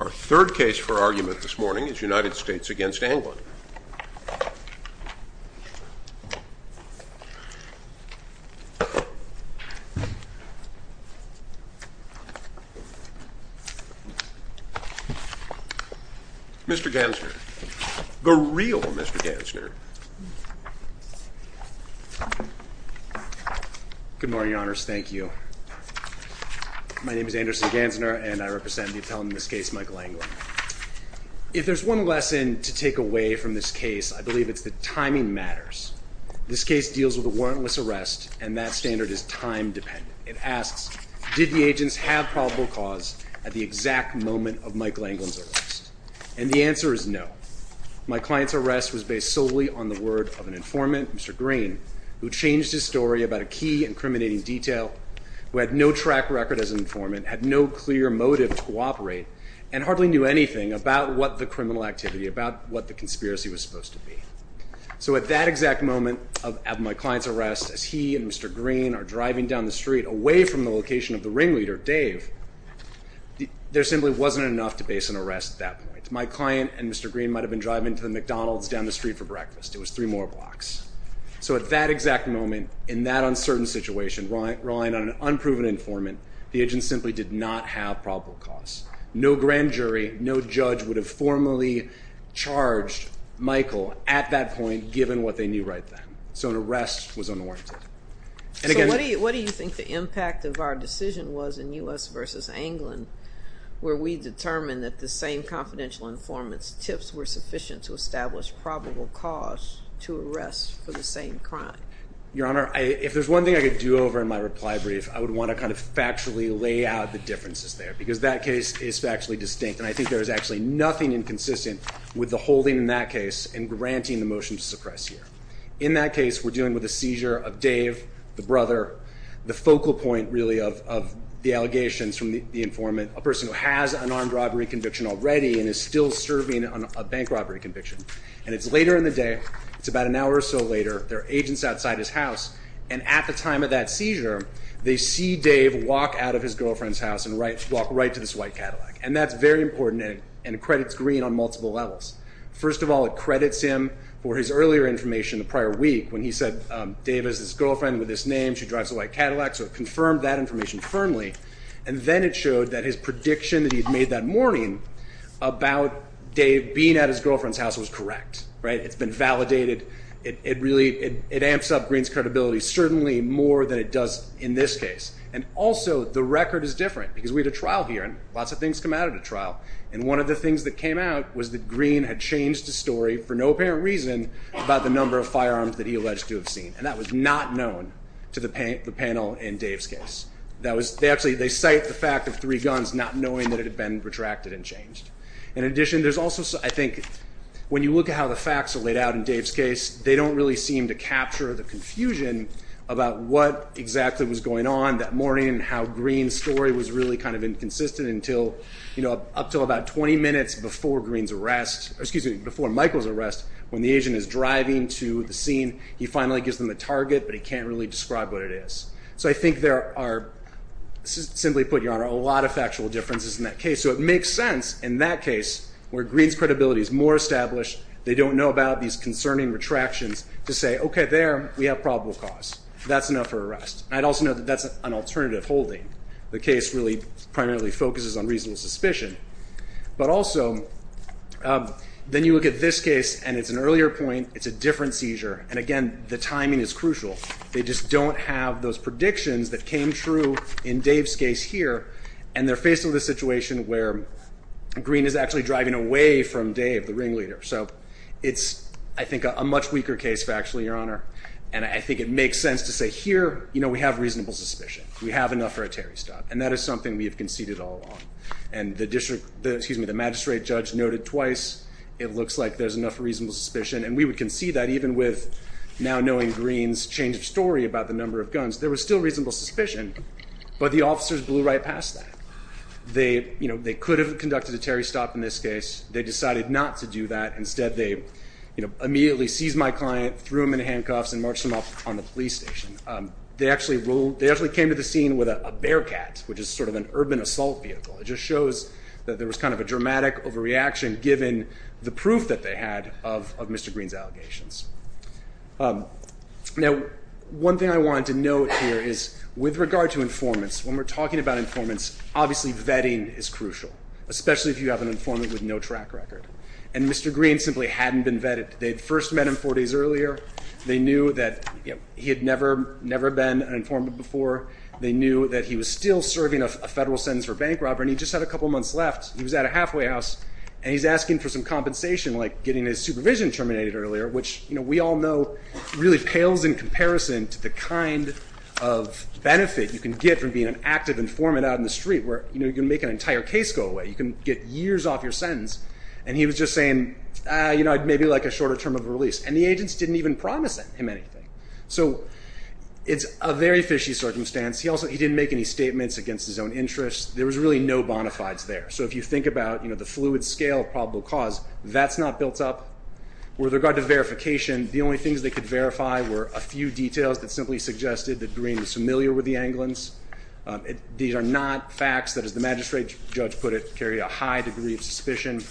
Our third case for argument this morning is United States v. Anglin. Mr. Gansner. The real Mr. Gansner. Good morning, Your Honors. Thank you. My name is Anderson Gansner, and I represent the appellant in this case, Michael Anglin. If there's one lesson to take away from this case, I believe it's that timing matters. This case deals with a warrantless arrest, and that standard is time dependent. It asks, did the agents have probable cause at the exact moment of Michael Anglin's arrest? And the answer is no. My client's arrest was based solely on the word of an informant, Mr. Green, who changed his story about a key incriminating detail, who had no track record as an informant, had no clear motive to cooperate, and hardly knew anything about what the criminal activity, about what the conspiracy was supposed to be. So at that exact moment of my client's arrest, as he and Mr. Green are driving down the street, away from the location of the ringleader, Dave, there simply wasn't enough to base an arrest at that point. My client and Mr. Green might have been driving to the McDonald's down the street for breakfast. It was three more blocks. So at that exact moment, in that uncertain situation, relying on an unproven informant, the agents simply did not have probable cause. No grand jury, no judge would have formally charged Michael at that point, given what they knew right then. So an arrest was unwarranted. So what do you think the impact of our decision was in U.S. versus Anglin, where we determined that the same confidential informant's tips were sufficient to establish probable cause to arrest for the same crime? Your Honor, if there's one thing I could do over in my reply brief, I would want to kind of factually lay out the differences there, because that case is factually distinct. And I think there is actually nothing inconsistent with the holding in that case and granting the motion to suppress here. In that case, we're dealing with a seizure of Dave, the brother, the focal point, really, of the allegations from the informant, a person who has an armed robbery conviction already and is still serving a bank robbery conviction. And it's later in the day, it's about an hour or so later, there are agents outside his house, and at the time of that seizure, they see Dave walk out of his girlfriend's house and walk right to this white Cadillac. And that's very important, and it credits Green on multiple levels. First of all, it credits him for his earlier information the prior week when he said Dave has this girlfriend with this name, she drives a white Cadillac, so it confirmed that information firmly. And then it showed that his prediction that he had made that morning about Dave being at his girlfriend's house was correct. It's been validated. It amps up Green's credibility certainly more than it does in this case. And also, the record is different, because we had a trial here, and lots of things come out of the trial, and one of the things that came out was that Green had changed the story for no apparent reason about the number of firearms that he alleged to have seen, and that was not known to the panel in Dave's case. They cite the fact of three guns not knowing that it had been retracted and changed. In addition, there's also, I think, when you look at how the facts are laid out in Dave's case, they don't really seem to capture the confusion about what exactly was going on that morning and how Green's story was really kind of inconsistent up to about 20 minutes before Michael's arrest when the agent is driving to the scene. He finally gives them the target, but he can't really describe what it is. So I think there are, simply put, Your Honor, a lot of factual differences in that case. So it makes sense in that case, where Green's credibility is more established, they don't know about these concerning retractions, to say, okay, there, we have probable cause. That's enough for arrest. And I'd also note that that's an alternative holding. The case really primarily focuses on reasonable suspicion. But also, then you look at this case, and it's an earlier point, it's a different seizure, and again, the timing is crucial. They just don't have those predictions that came true in Dave's case here, and they're faced with a situation where Green is actually driving away from Dave, the ringleader. So it's, I think, a much weaker case factually, Your Honor, and I think it makes sense to say here, you know, we have reasonable suspicion. We have enough for a Terry stop, and that is something we have conceded all along. And the magistrate judge noted twice, it looks like there's enough reasonable suspicion, and we would concede that even with now knowing Green's changed story about the number of guns. There was still reasonable suspicion, but the officers blew right past that. They could have conducted a Terry stop in this case. They decided not to do that. Instead, they immediately seized my client, threw him in handcuffs, and marched him off on the police station. They actually came to the scene with a Bearcat, which is sort of an urban assault vehicle. It just shows that there was kind of a dramatic overreaction given the proof that they had of Mr. Green's allegations. Now, one thing I wanted to note here is with regard to informants, when we're talking about informants, obviously vetting is crucial, especially if you have an informant with no track record. And Mr. Green simply hadn't been vetted. They had first met him four days earlier. They knew that he had never been an informant before. They knew that he was still serving a federal sentence for bank robbery, and he just had a couple months left. He was at a halfway house, and he's asking for some compensation, like getting his supervision terminated earlier, which we all know really pales in comparison to the kind of benefit you can get from being an active informant out in the street where you can make an entire case go away. You can get years off your sentence. And he was just saying, you know, I'd maybe like a shorter term of release. And the agents didn't even promise him anything. So it's a very fishy circumstance. He didn't make any statements against his own interests. There was really no bona fides there. So if you think about, you know, the fluid scale of probable cause, that's not built up. With regard to verification, the only things they could verify were a few details that simply suggested that Green was familiar with the Anglins. These are not facts that, as the magistrate judge put it, carry a high degree of suspicion.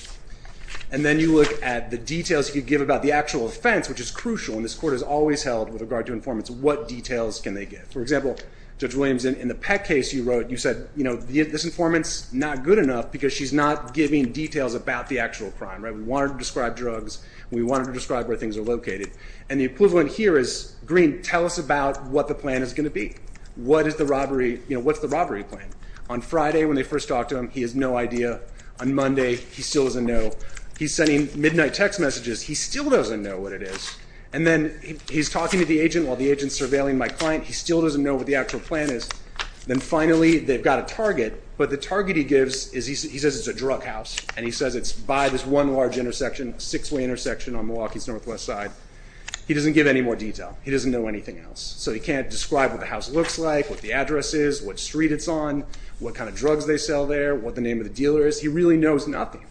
And then you look at the details you give about the actual offense, which is crucial, and this court has always held, with regard to informants, what details can they give. For example, Judge Williams, in the Peck case you wrote, you said, you know, this informant's not good enough because she's not giving details about the actual crime. We want her to describe drugs. We want her to describe where things are located. And the equivalent here is, Green, tell us about what the plan is going to be. What is the robbery, you know, what's the robbery plan? On Friday, when they first talk to him, he has no idea. On Monday, he still doesn't know. He's sending midnight text messages. He still doesn't know what it is. And then he's talking to the agent while the agent's surveilling my client. He still doesn't know what the actual plan is. Then, finally, they've got a target, but the target he gives is he says it's a drug house, and he says it's by this one large intersection, a six-way intersection on Milwaukee's northwest side. He doesn't give any more detail. He doesn't know anything else. So he can't describe what the house looks like, what the address is, what street it's on, what kind of drugs they sell there, what the name of the dealer is. He really knows nothing,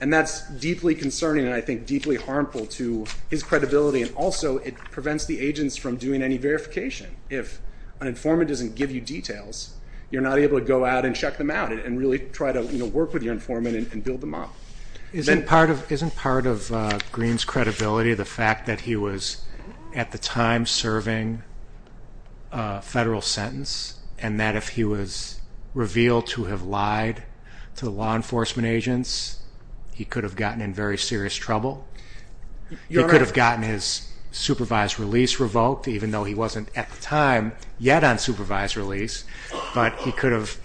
and that's deeply concerning and I think deeply harmful to his credibility, and also it prevents the agents from doing any verification. If an informant doesn't give you details, you're not able to go out and check them out and really try to work with your informant and build them up. Isn't part of Green's credibility the fact that he was at the time serving a federal sentence and that if he was revealed to have lied to law enforcement agents, he could have gotten in very serious trouble? You're right. He could have gotten his supervised release revoked, even though he wasn't at the time yet on supervised release, but he could have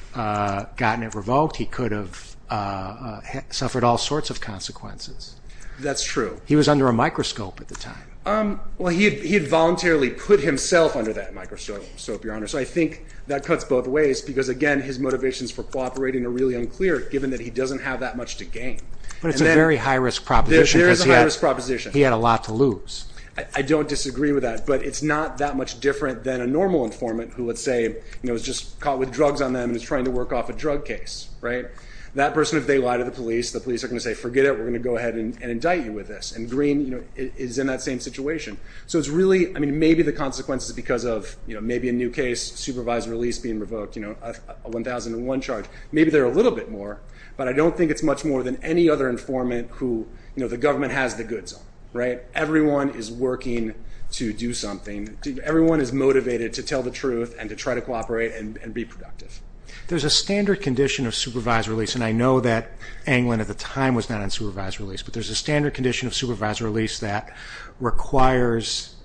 gotten it revoked. He could have suffered all sorts of consequences. That's true. He was under a microscope at the time. Well, he had voluntarily put himself under that microscope, Your Honor, so I think that cuts both ways because, again, his motivations for cooperating are really unclear given that he doesn't have that much to gain. But it's a very high-risk proposition. There is a high-risk proposition. He had a lot to lose. I don't disagree with that, but it's not that much different than a normal informant who, let's say, is just caught with drugs on them and is trying to work off a drug case. That person, if they lie to the police, the police are going to say, forget it, we're going to go ahead and indict you with this. And Green is in that same situation. So it's really maybe the consequences because of maybe a new case, supervised release being revoked, a 1001 charge. Maybe they're a little bit more, but I don't think it's much more than any other informant who the government has the goods on. Everyone is working to do something. Everyone is motivated to tell the truth and to try to cooperate and be productive. There's a standard condition of supervised release, and I know that Anglin at the time was not on supervised release, but there's a standard condition of supervised release that requires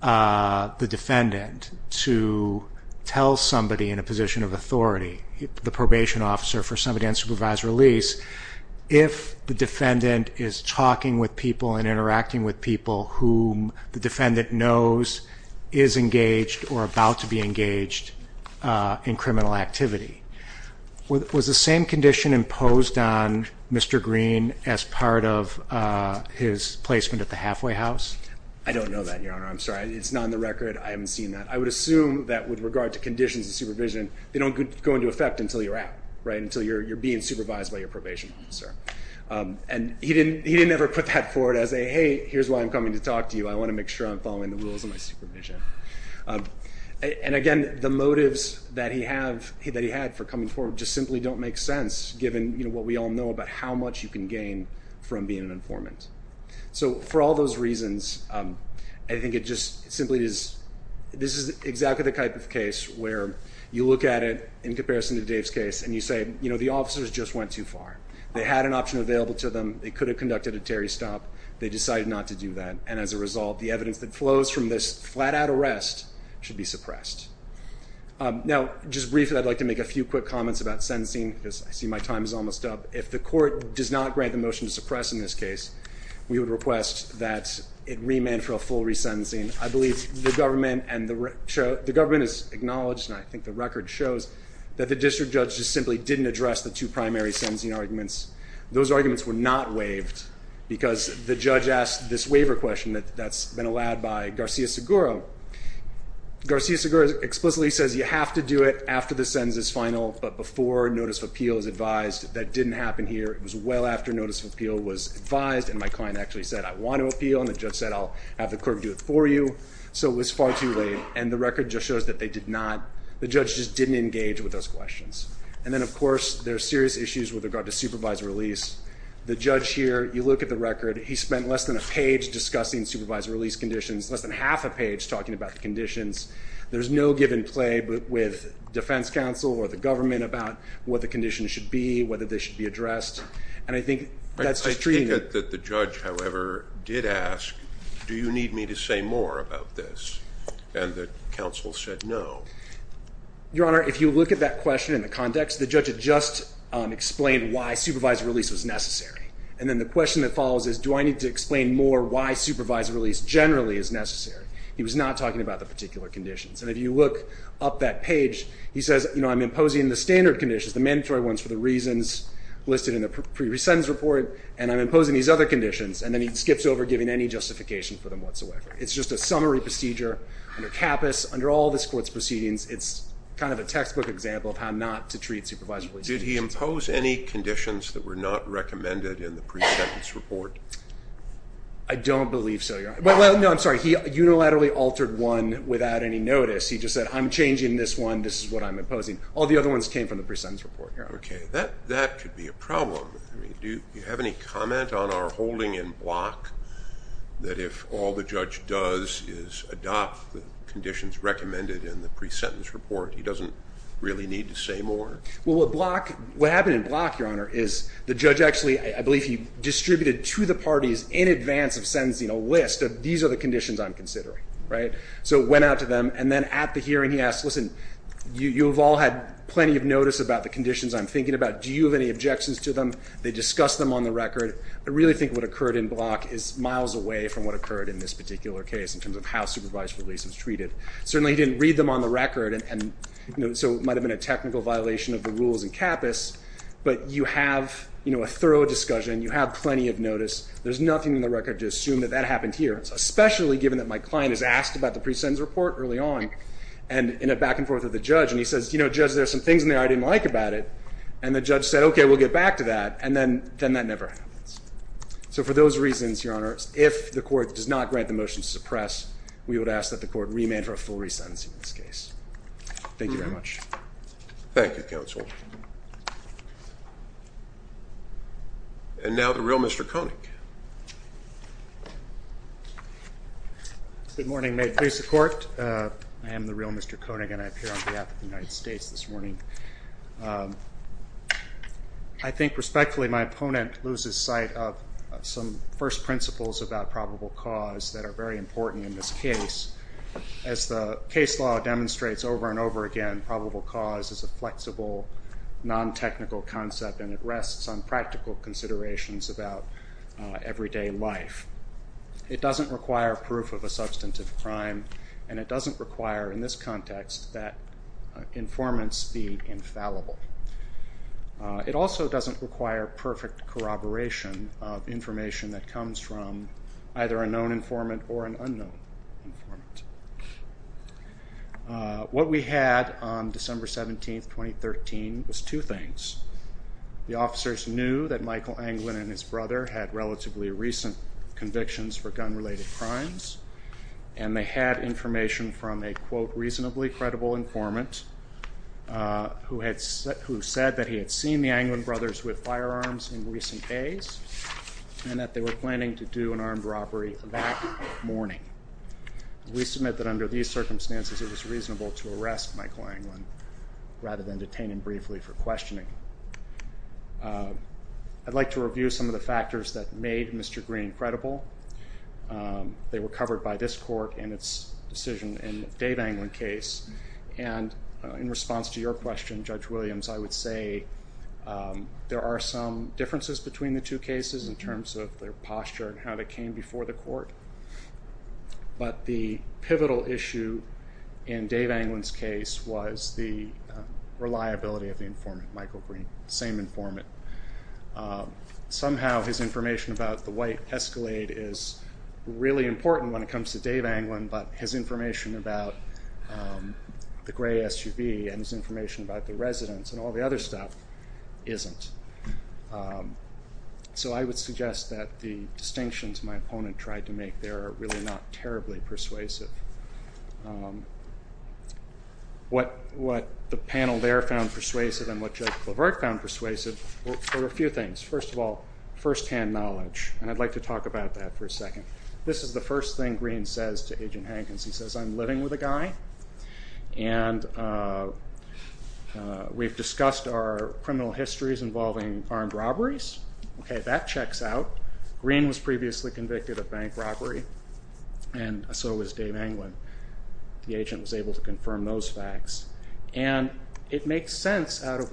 the defendant to tell somebody in a position of authority, the probation officer for somebody on supervised release, if the defendant is talking with people and interacting with people whom the defendant knows is engaged or about to be engaged in criminal activity. Was the same condition imposed on Mr. Green as part of his placement at the halfway house? I don't know that, Your Honor. I'm sorry. It's not on the record. I haven't seen that. I would assume that with regard to conditions of supervision, they don't go into effect until you're out, right, until you're being supervised by your probation officer. And he didn't ever put that forward as a, hey, here's why I'm coming to talk to you. I want to make sure I'm following the rules of my supervision. And, again, the motives that he had for coming forward just simply don't make sense given what we all know about how much you can gain from being an informant. So for all those reasons, I think it just simply is this is exactly the type of case where you look at it in comparison to Dave's case and you say, you know, the officers just went too far. They had an option available to them. They could have conducted a Terry stop. They decided not to do that. And as a result, the evidence that flows from this flat-out arrest should be suppressed. Now, just briefly, I'd like to make a few quick comments about sentencing because I see my time is almost up. If the court does not grant the motion to suppress in this case, we would request that it remand for a full resentencing. I believe the government is acknowledged, and I think the record shows that the district judge just simply didn't address the two primary sentencing arguments. Those arguments were not waived because the judge asked this waiver question that's been allowed by Garcia-Seguro. Garcia-Seguro explicitly says you have to do it after the sentence is final but before notice of appeal is advised. That didn't happen here. It was well after notice of appeal was advised, and my client actually said, I want to appeal, and the judge said, I'll have the court do it for you. So it was far too late. And the record just shows that they did not, the judge just didn't engage with those questions. And then, of course, there are serious issues with regard to supervised release. The judge here, you look at the record, he spent less than a page discussing supervised release conditions, less than half a page talking about the conditions. There's no give and play with defense counsel or the government about what the conditions should be, whether they should be addressed. And I think that's just treating it. I take it that the judge, however, did ask, do you need me to say more about this? And the counsel said no. Your Honor, if you look at that question in the context, the judge had just explained why supervised release was necessary. And then the question that follows is, do I need to explain more why supervised release generally is necessary? He was not talking about the particular conditions. And if you look up that page, he says, you know, I'm imposing the standard conditions, the mandatory ones for the reasons listed in the pre-resentence report, and I'm imposing these other conditions. And then he skips over giving any justification for them whatsoever. It's just a summary procedure under CAPAS. Under all this Court's proceedings, it's kind of a textbook example of how not to treat supervised release. Did he impose any conditions that were not recommended in the pre-sentence report? I don't believe so, Your Honor. No, I'm sorry. He unilaterally altered one without any notice. He just said, I'm changing this one. This is what I'm imposing. All the other ones came from the pre-sentence report, Your Honor. Okay. That could be a problem. Do you have any comment on our holding in block that if all the judge does is adopt the conditions recommended in the pre-sentence report, he doesn't really need to say more? Well, what happened in block, Your Honor, is the judge actually, I believe he distributed to the parties in advance of sentencing, a list of these are the conditions I'm considering, right? So it went out to them. And then at the hearing, he asked, listen, you have all had plenty of notice about the conditions I'm thinking about. Do you have any objections to them? They discussed them on the record. I really think what occurred in block is miles away from what occurred in this particular case in terms of how supervised release was treated. Certainly he didn't read them on the record, and so it might have been a technical violation of the rules in capice. But you have a thorough discussion. You have plenty of notice. There's nothing in the record to assume that that happened here, especially given that my client is asked about the pre-sentence report early on, and in a back and forth with the judge. And he says, you know, Judge, there's some things in there I didn't like about it. And the judge said, okay, we'll get back to that. And then that never happens. So for those reasons, Your Honor, if the court does not grant the motion to suppress, we would ask that the court remand for a full resentencing in this case. Thank you very much. Thank you, Counsel. And now the real Mr. Koenig. Good morning. May it please the Court. I am the real Mr. Koenig, and I appear on behalf of the United States this morning. I think respectfully my opponent loses sight of some first principles about probable cause that are very important in this case. As the case law demonstrates over and over again, probable cause is a flexible, non-technical concept, and it rests on practical considerations about everyday life. It doesn't require proof of a substantive crime, and it doesn't require in this context that informants be infallible. It also doesn't require perfect corroboration of information that comes from either a known informant or an unknown informant. What we had on December 17, 2013, was two things. The officers knew that Michael Anglin and his brother had relatively recent convictions for gun-related crimes, and they had information from a, quote, reasonably credible informant who said that he had seen the Anglin brothers with firearms in recent days and that they were planning to do an armed robbery that morning. We submit that under these circumstances it was reasonable to arrest Michael Anglin rather than detain him briefly for questioning. I'd like to review some of the factors that made Mr. Green credible. They were covered by this court in its decision in the Dave Anglin case, and in response to your question, Judge Williams, I would say there are some differences between the two cases in terms of their posture and how they came before the court, but the pivotal issue in Dave Anglin's case was the reliability of the informant, Michael Green, the same informant. Somehow his information about the white Escalade is really important when it comes to Dave Anglin, but his information about the gray SUV and his information about the residence and all the other stuff isn't. So I would suggest that the distinctions my opponent tried to make there are really not terribly persuasive. What the panel there found persuasive and what Judge Clavert found persuasive were a few things. First of all, firsthand knowledge, and I'd like to talk about that for a second. This is the first thing Green says to Agent Hankins. He says, I'm living with a guy, and we've discussed our criminal histories involving armed robberies. Okay, that checks out. Green was previously convicted of bank robbery, and so was Dave Anglin. The agent was able to confirm those facts, and it makes sense out of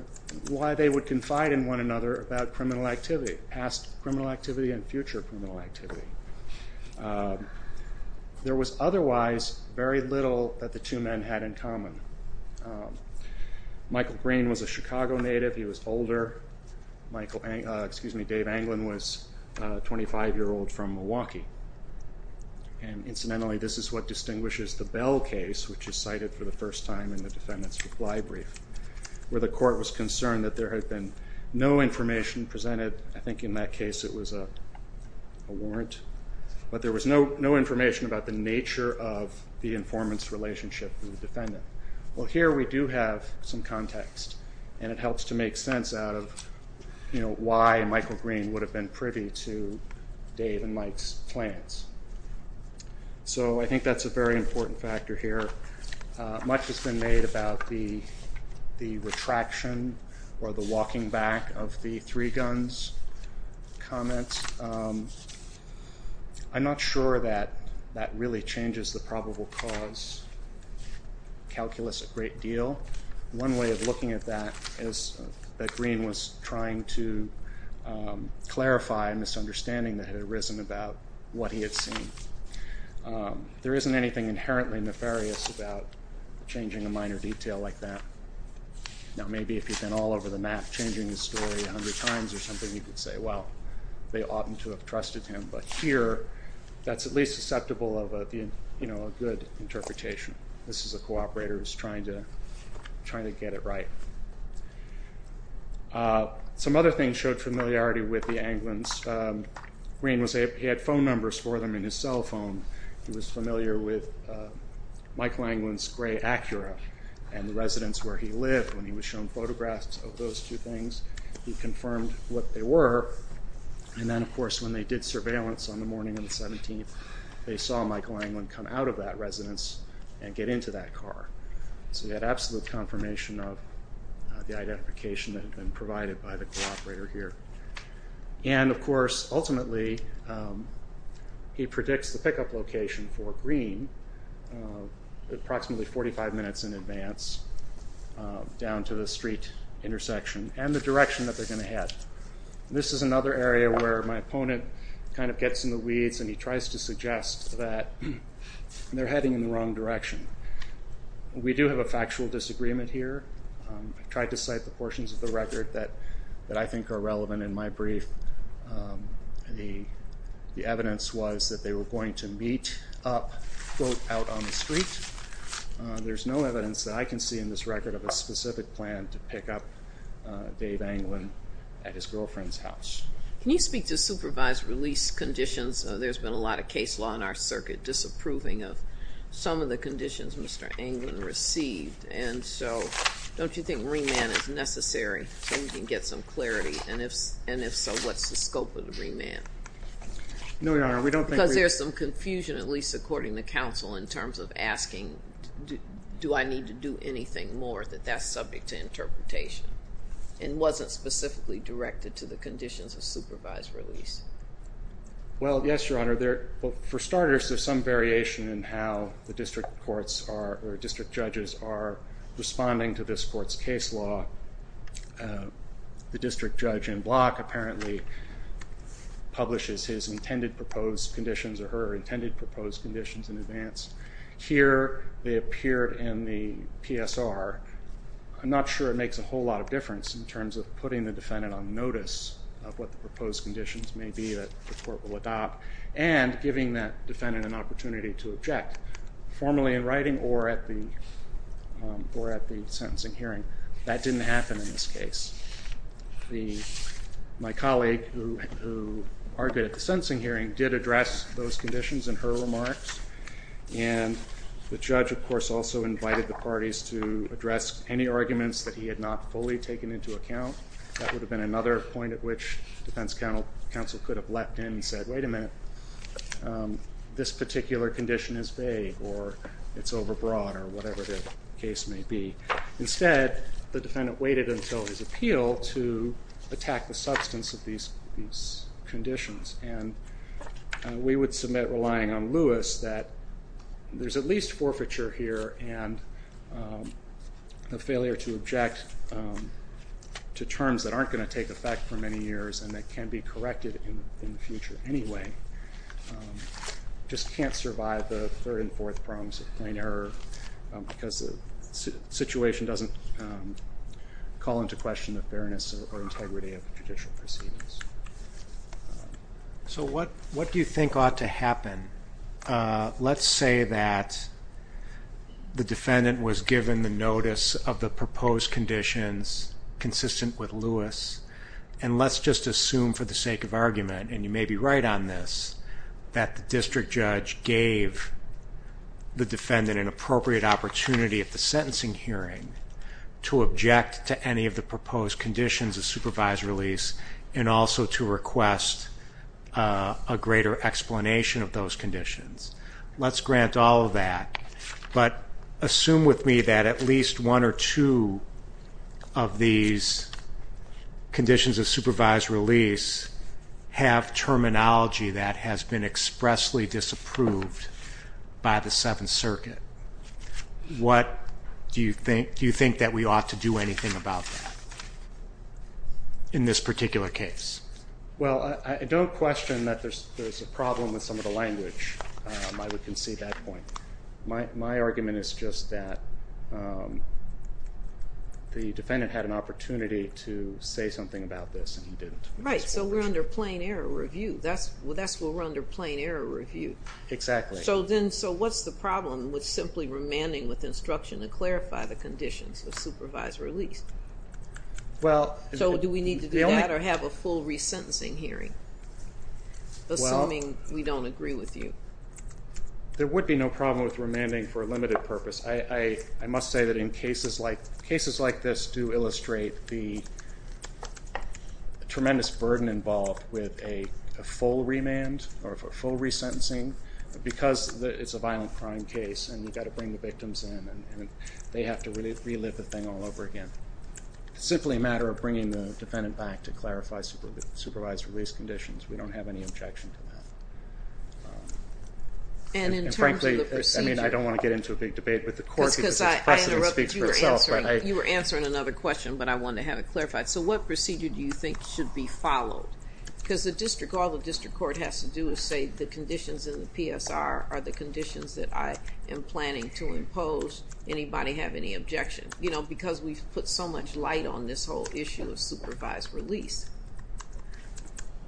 why they would confide in one another about criminal activity, past criminal activity and future criminal activity. There was otherwise very little that the two men had in common. Michael Green was a Chicago native. He was older. Dave Anglin was a 25-year-old from Milwaukee, and incidentally this is what distinguishes the Bell case, which is cited for the first time in the defendant's reply brief, where the court was concerned that there had been no information presented. I think in that case it was a warrant, but there was no information about the nature of the informant's relationship with the defendant. Well, here we do have some context, and it helps to make sense out of why Michael Green would have been privy to Dave and Mike's plans. So I think that's a very important factor here. Much has been made about the retraction or the walking back of the three guns comment. I'm not sure that that really changes the probable cause calculus a great deal. One way of looking at that is that Green was trying to clarify a misunderstanding that had arisen about what he had seen. There isn't anything inherently nefarious about changing a minor detail like that. Now maybe if you've been all over the map changing the story a hundred times or something, you could say, well, they oughtn't to have trusted him, but here that's at least susceptible of a good interpretation. This is a cooperator who's trying to get it right. Some other things showed familiarity with the Anglins. Green had phone numbers for them in his cell phone. He was familiar with Michael Anglin's gray Acura and the residence where he lived. When he was shown photographs of those two things, he confirmed what they were. And then, of course, when they did surveillance on the morning of the 17th, they saw Michael Anglin come out of that residence and get into that car. So he had absolute confirmation of the identification that had been provided by the cooperator here. And, of course, ultimately he predicts the pickup location for Green approximately 45 minutes in advance down to the street intersection and the direction that they're going to head. This is another area where my opponent kind of gets in the weeds and he tries to suggest that they're heading in the wrong direction. We do have a factual disagreement here. I tried to cite the portions of the record that I think are relevant in my brief. The evidence was that they were going to meet up both out on the street. There's no evidence that I can see in this record of a specific plan to pick up Dave Anglin at his girlfriend's house. Can you speak to supervised release conditions? There's been a lot of case law in our circuit disapproving of some of the conditions Mr. Anglin received. And so don't you think remand is necessary so we can get some clarity? And if so, what's the scope of the remand? No, Your Honor, we don't think remand. Because there's some confusion, at least according to counsel, in terms of asking do I need to do anything more that that's subject to interpretation and wasn't specifically directed to the conditions of supervised release. Well, yes, Your Honor. For starters, there's some variation in how the district courts or district judges are responding to this court's case law. The district judge in Block apparently publishes his intended proposed conditions or her intended proposed conditions in advance. Here they appear in the PSR. I'm not sure it makes a whole lot of difference in terms of putting the defendant on notice of what the proposed conditions may be that the court will adopt and giving that defendant an opportunity to object formally in writing or at the sentencing hearing. That didn't happen in this case. My colleague, who argued at the sentencing hearing, did address those conditions in her remarks. And the judge, of course, also invited the parties to address any arguments that he had not fully taken into account. That would have been another point at which defense counsel could have leapt in and said, wait a minute, this particular condition is vague or it's overbroad or whatever the case may be. Instead, the defendant waited until his appeal to attack the substance of these conditions. And we would submit relying on Lewis that there's at least forfeiture here and the failure to object to terms that aren't going to take effect for many years and that can be corrected in the future anyway, just can't survive the third and fourth prongs of plain error because the situation doesn't call into question the fairness or integrity of judicial proceedings. So what do you think ought to happen? Let's say that the defendant was given the notice of the proposed conditions consistent with Lewis. And let's just assume for the sake of argument, and you may be right on this, that the district judge gave the defendant an appropriate opportunity at the sentencing hearing to object to any of the proposed conditions of supervised release and also to request a greater explanation of those conditions. Let's grant all of that. But assume with me that at least one or two of these conditions of supervised release have terminology that has been expressly disapproved by the Seventh Circuit. Do you think that we ought to do anything about that in this particular case? Well, I don't question that there's a problem with some of the language. I would concede that point. My argument is just that the defendant had an opportunity to say something about this and he didn't. Right, so we're under plain error review. That's why we're under plain error review. Exactly. So what's the problem with simply remanding with instruction to clarify the conditions of supervised release? So do we need to do that or have a full resentencing hearing, assuming we don't agree with you? There would be no problem with remanding for a limited purpose. I must say that in cases like this do illustrate the tremendous burden involved with a full remand or a full resentencing because it's a violent crime case and you've got to bring the victims in and they have to relive the thing all over again. It's simply a matter of bringing the defendant back to clarify supervised release conditions. We don't have any objection to that. And in terms of the procedure. And frankly, I don't want to get into a big debate with the court because it's a question that speaks for itself. You were answering another question, but I wanted to have it clarified. So what procedure do you think should be followed? Because the district, all the district court has to do is say, the conditions in the PSR are the conditions that I am planning to impose. Anybody have any objection? You know, because we've put so much light on this whole issue of supervised release.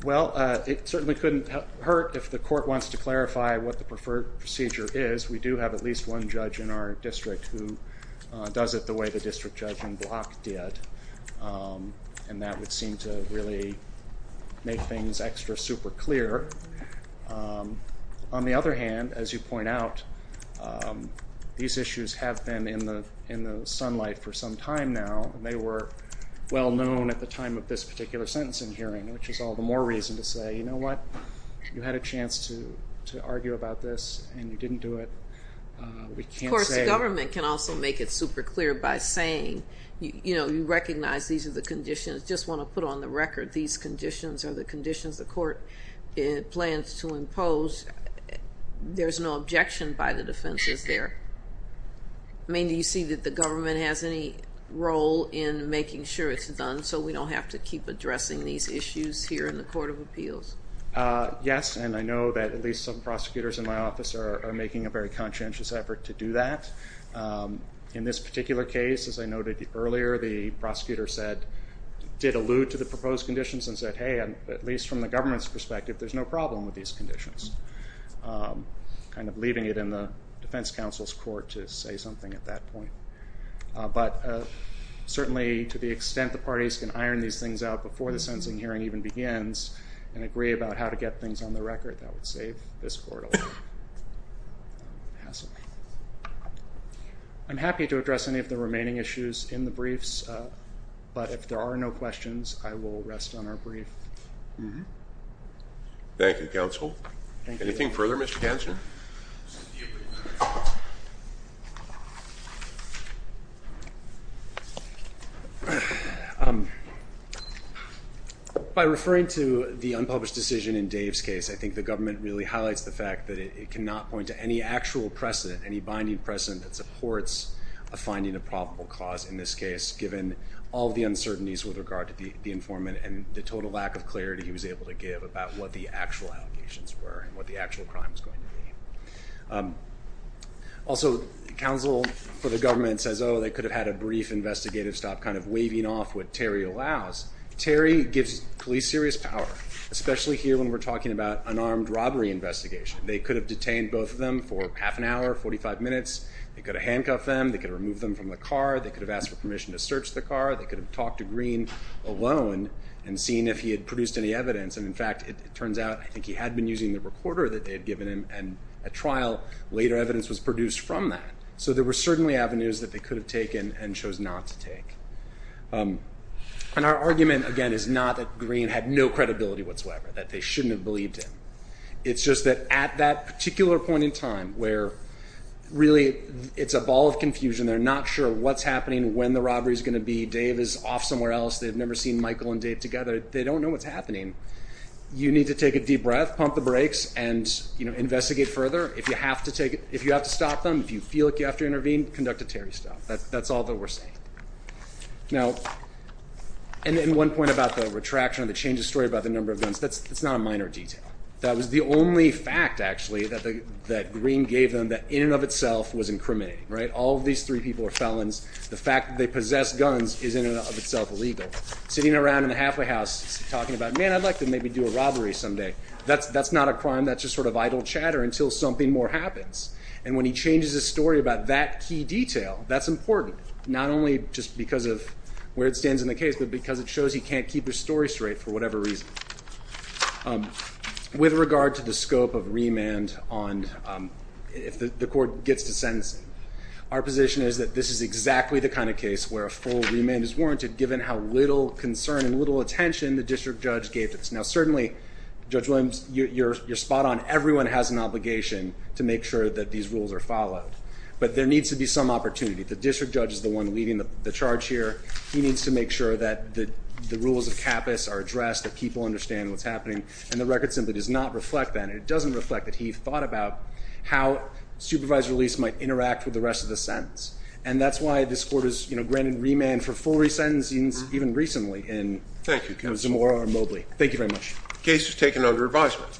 Well, it certainly couldn't hurt if the court wants to clarify what the preferred procedure is. We do have at least one judge in our district who does it the way the district judgment block did. And that would seem to really make things extra super clear. On the other hand, as you point out, these issues have been in the sunlight for some time now. They were well known at the time of this particular sentencing hearing, which is all the more reason to say, you know what? You had a chance to argue about this and you didn't do it. We can't say. The government can also make it super clear by saying, you know, you recognize these are the conditions, just want to put on the record these conditions are the conditions the court plans to impose. There's no objection by the defenses there. I mean, do you see that the government has any role in making sure it's done so we don't have to keep addressing these issues here in the Court of Appeals? Yes, and I know that at least some prosecutors in my office are making a very conscientious effort to do that. In this particular case, as I noted earlier, the prosecutor said, did allude to the proposed conditions and said, hey, at least from the government's perspective, there's no problem with these conditions, kind of leaving it in the defense counsel's court to say something at that point. But certainly to the extent the parties can iron these things out before the sentencing hearing even begins and agree about how to get things on the record, that would save this court a lot of hassle. I'm happy to address any of the remaining issues in the briefs, but if there are no questions, I will rest on our brief. Thank you, counsel. Anything further, Mr. Kansner? By referring to the unpublished decision in Dave's case, I think the government really highlights the fact that it cannot point to any actual precedent, any binding precedent that supports a finding of probable cause in this case, given all the uncertainties with regard to the informant and the total lack of clarity he was able to give about what the actual allegations were and what the actual crime was going to be. Also, counsel for the government says, oh, they could have had a brief investigative stop, kind of waving off what Terry allows. Terry gives police serious power, especially here when we're talking about an armed robbery investigation. They could have detained both of them for half an hour, 45 minutes. They could have handcuffed them. They could have removed them from the car. They could have asked for permission to search the car. They could have talked to Green alone and seen if he had produced any evidence. And, in fact, it turns out I think he had been using the recorder that they had given him at trial. Later evidence was produced from that. So there were certainly avenues that they could have taken and chose not to take. And our argument, again, is not that Green had no credibility whatsoever, that they shouldn't have believed him. It's just that at that particular point in time where really it's a ball of confusion, they're not sure what's happening, when the robbery is going to be, Dave is off somewhere else, they've never seen Michael and Dave together, they don't know what's happening. You need to take a deep breath, pump the brakes, and investigate further. If you have to stop them, if you feel like you have to intervene, conduct a Terry stop. That's all that we're saying. Now, and then one point about the retraction and the change of story about the number of guns, that's not a minor detail. That was the only fact, actually, that Green gave them that in and of itself was incriminating. All of these three people are felons. The fact that they possess guns is in and of itself illegal. Sitting around in the halfway house talking about, man, I'd like to maybe do a robbery someday, that's not a crime, that's just sort of idle chatter until something more happens. And when he changes his story about that key detail, that's important, not only just because of where it stands in the case, but because it shows he can't keep his story straight for whatever reason. With regard to the scope of remand on if the court gets to sentencing, our position is that this is exactly the kind of case where a full remand is warranted, given how little concern and little attention the district judge gave to this. Now, certainly, Judge Williams, you're spot on. Everyone has an obligation to make sure that these rules are followed. But there needs to be some opportunity. The district judge is the one leading the charge here. He needs to make sure that the rules of CAPAS are addressed, that people understand what's happening, and the record simply does not reflect that. It doesn't reflect that he thought about how supervised release might interact with the rest of the sentence. And that's why this court has granted remand for full resentencings even recently in Zamora and Mobley. Thank you very much. The case is taken under advisement.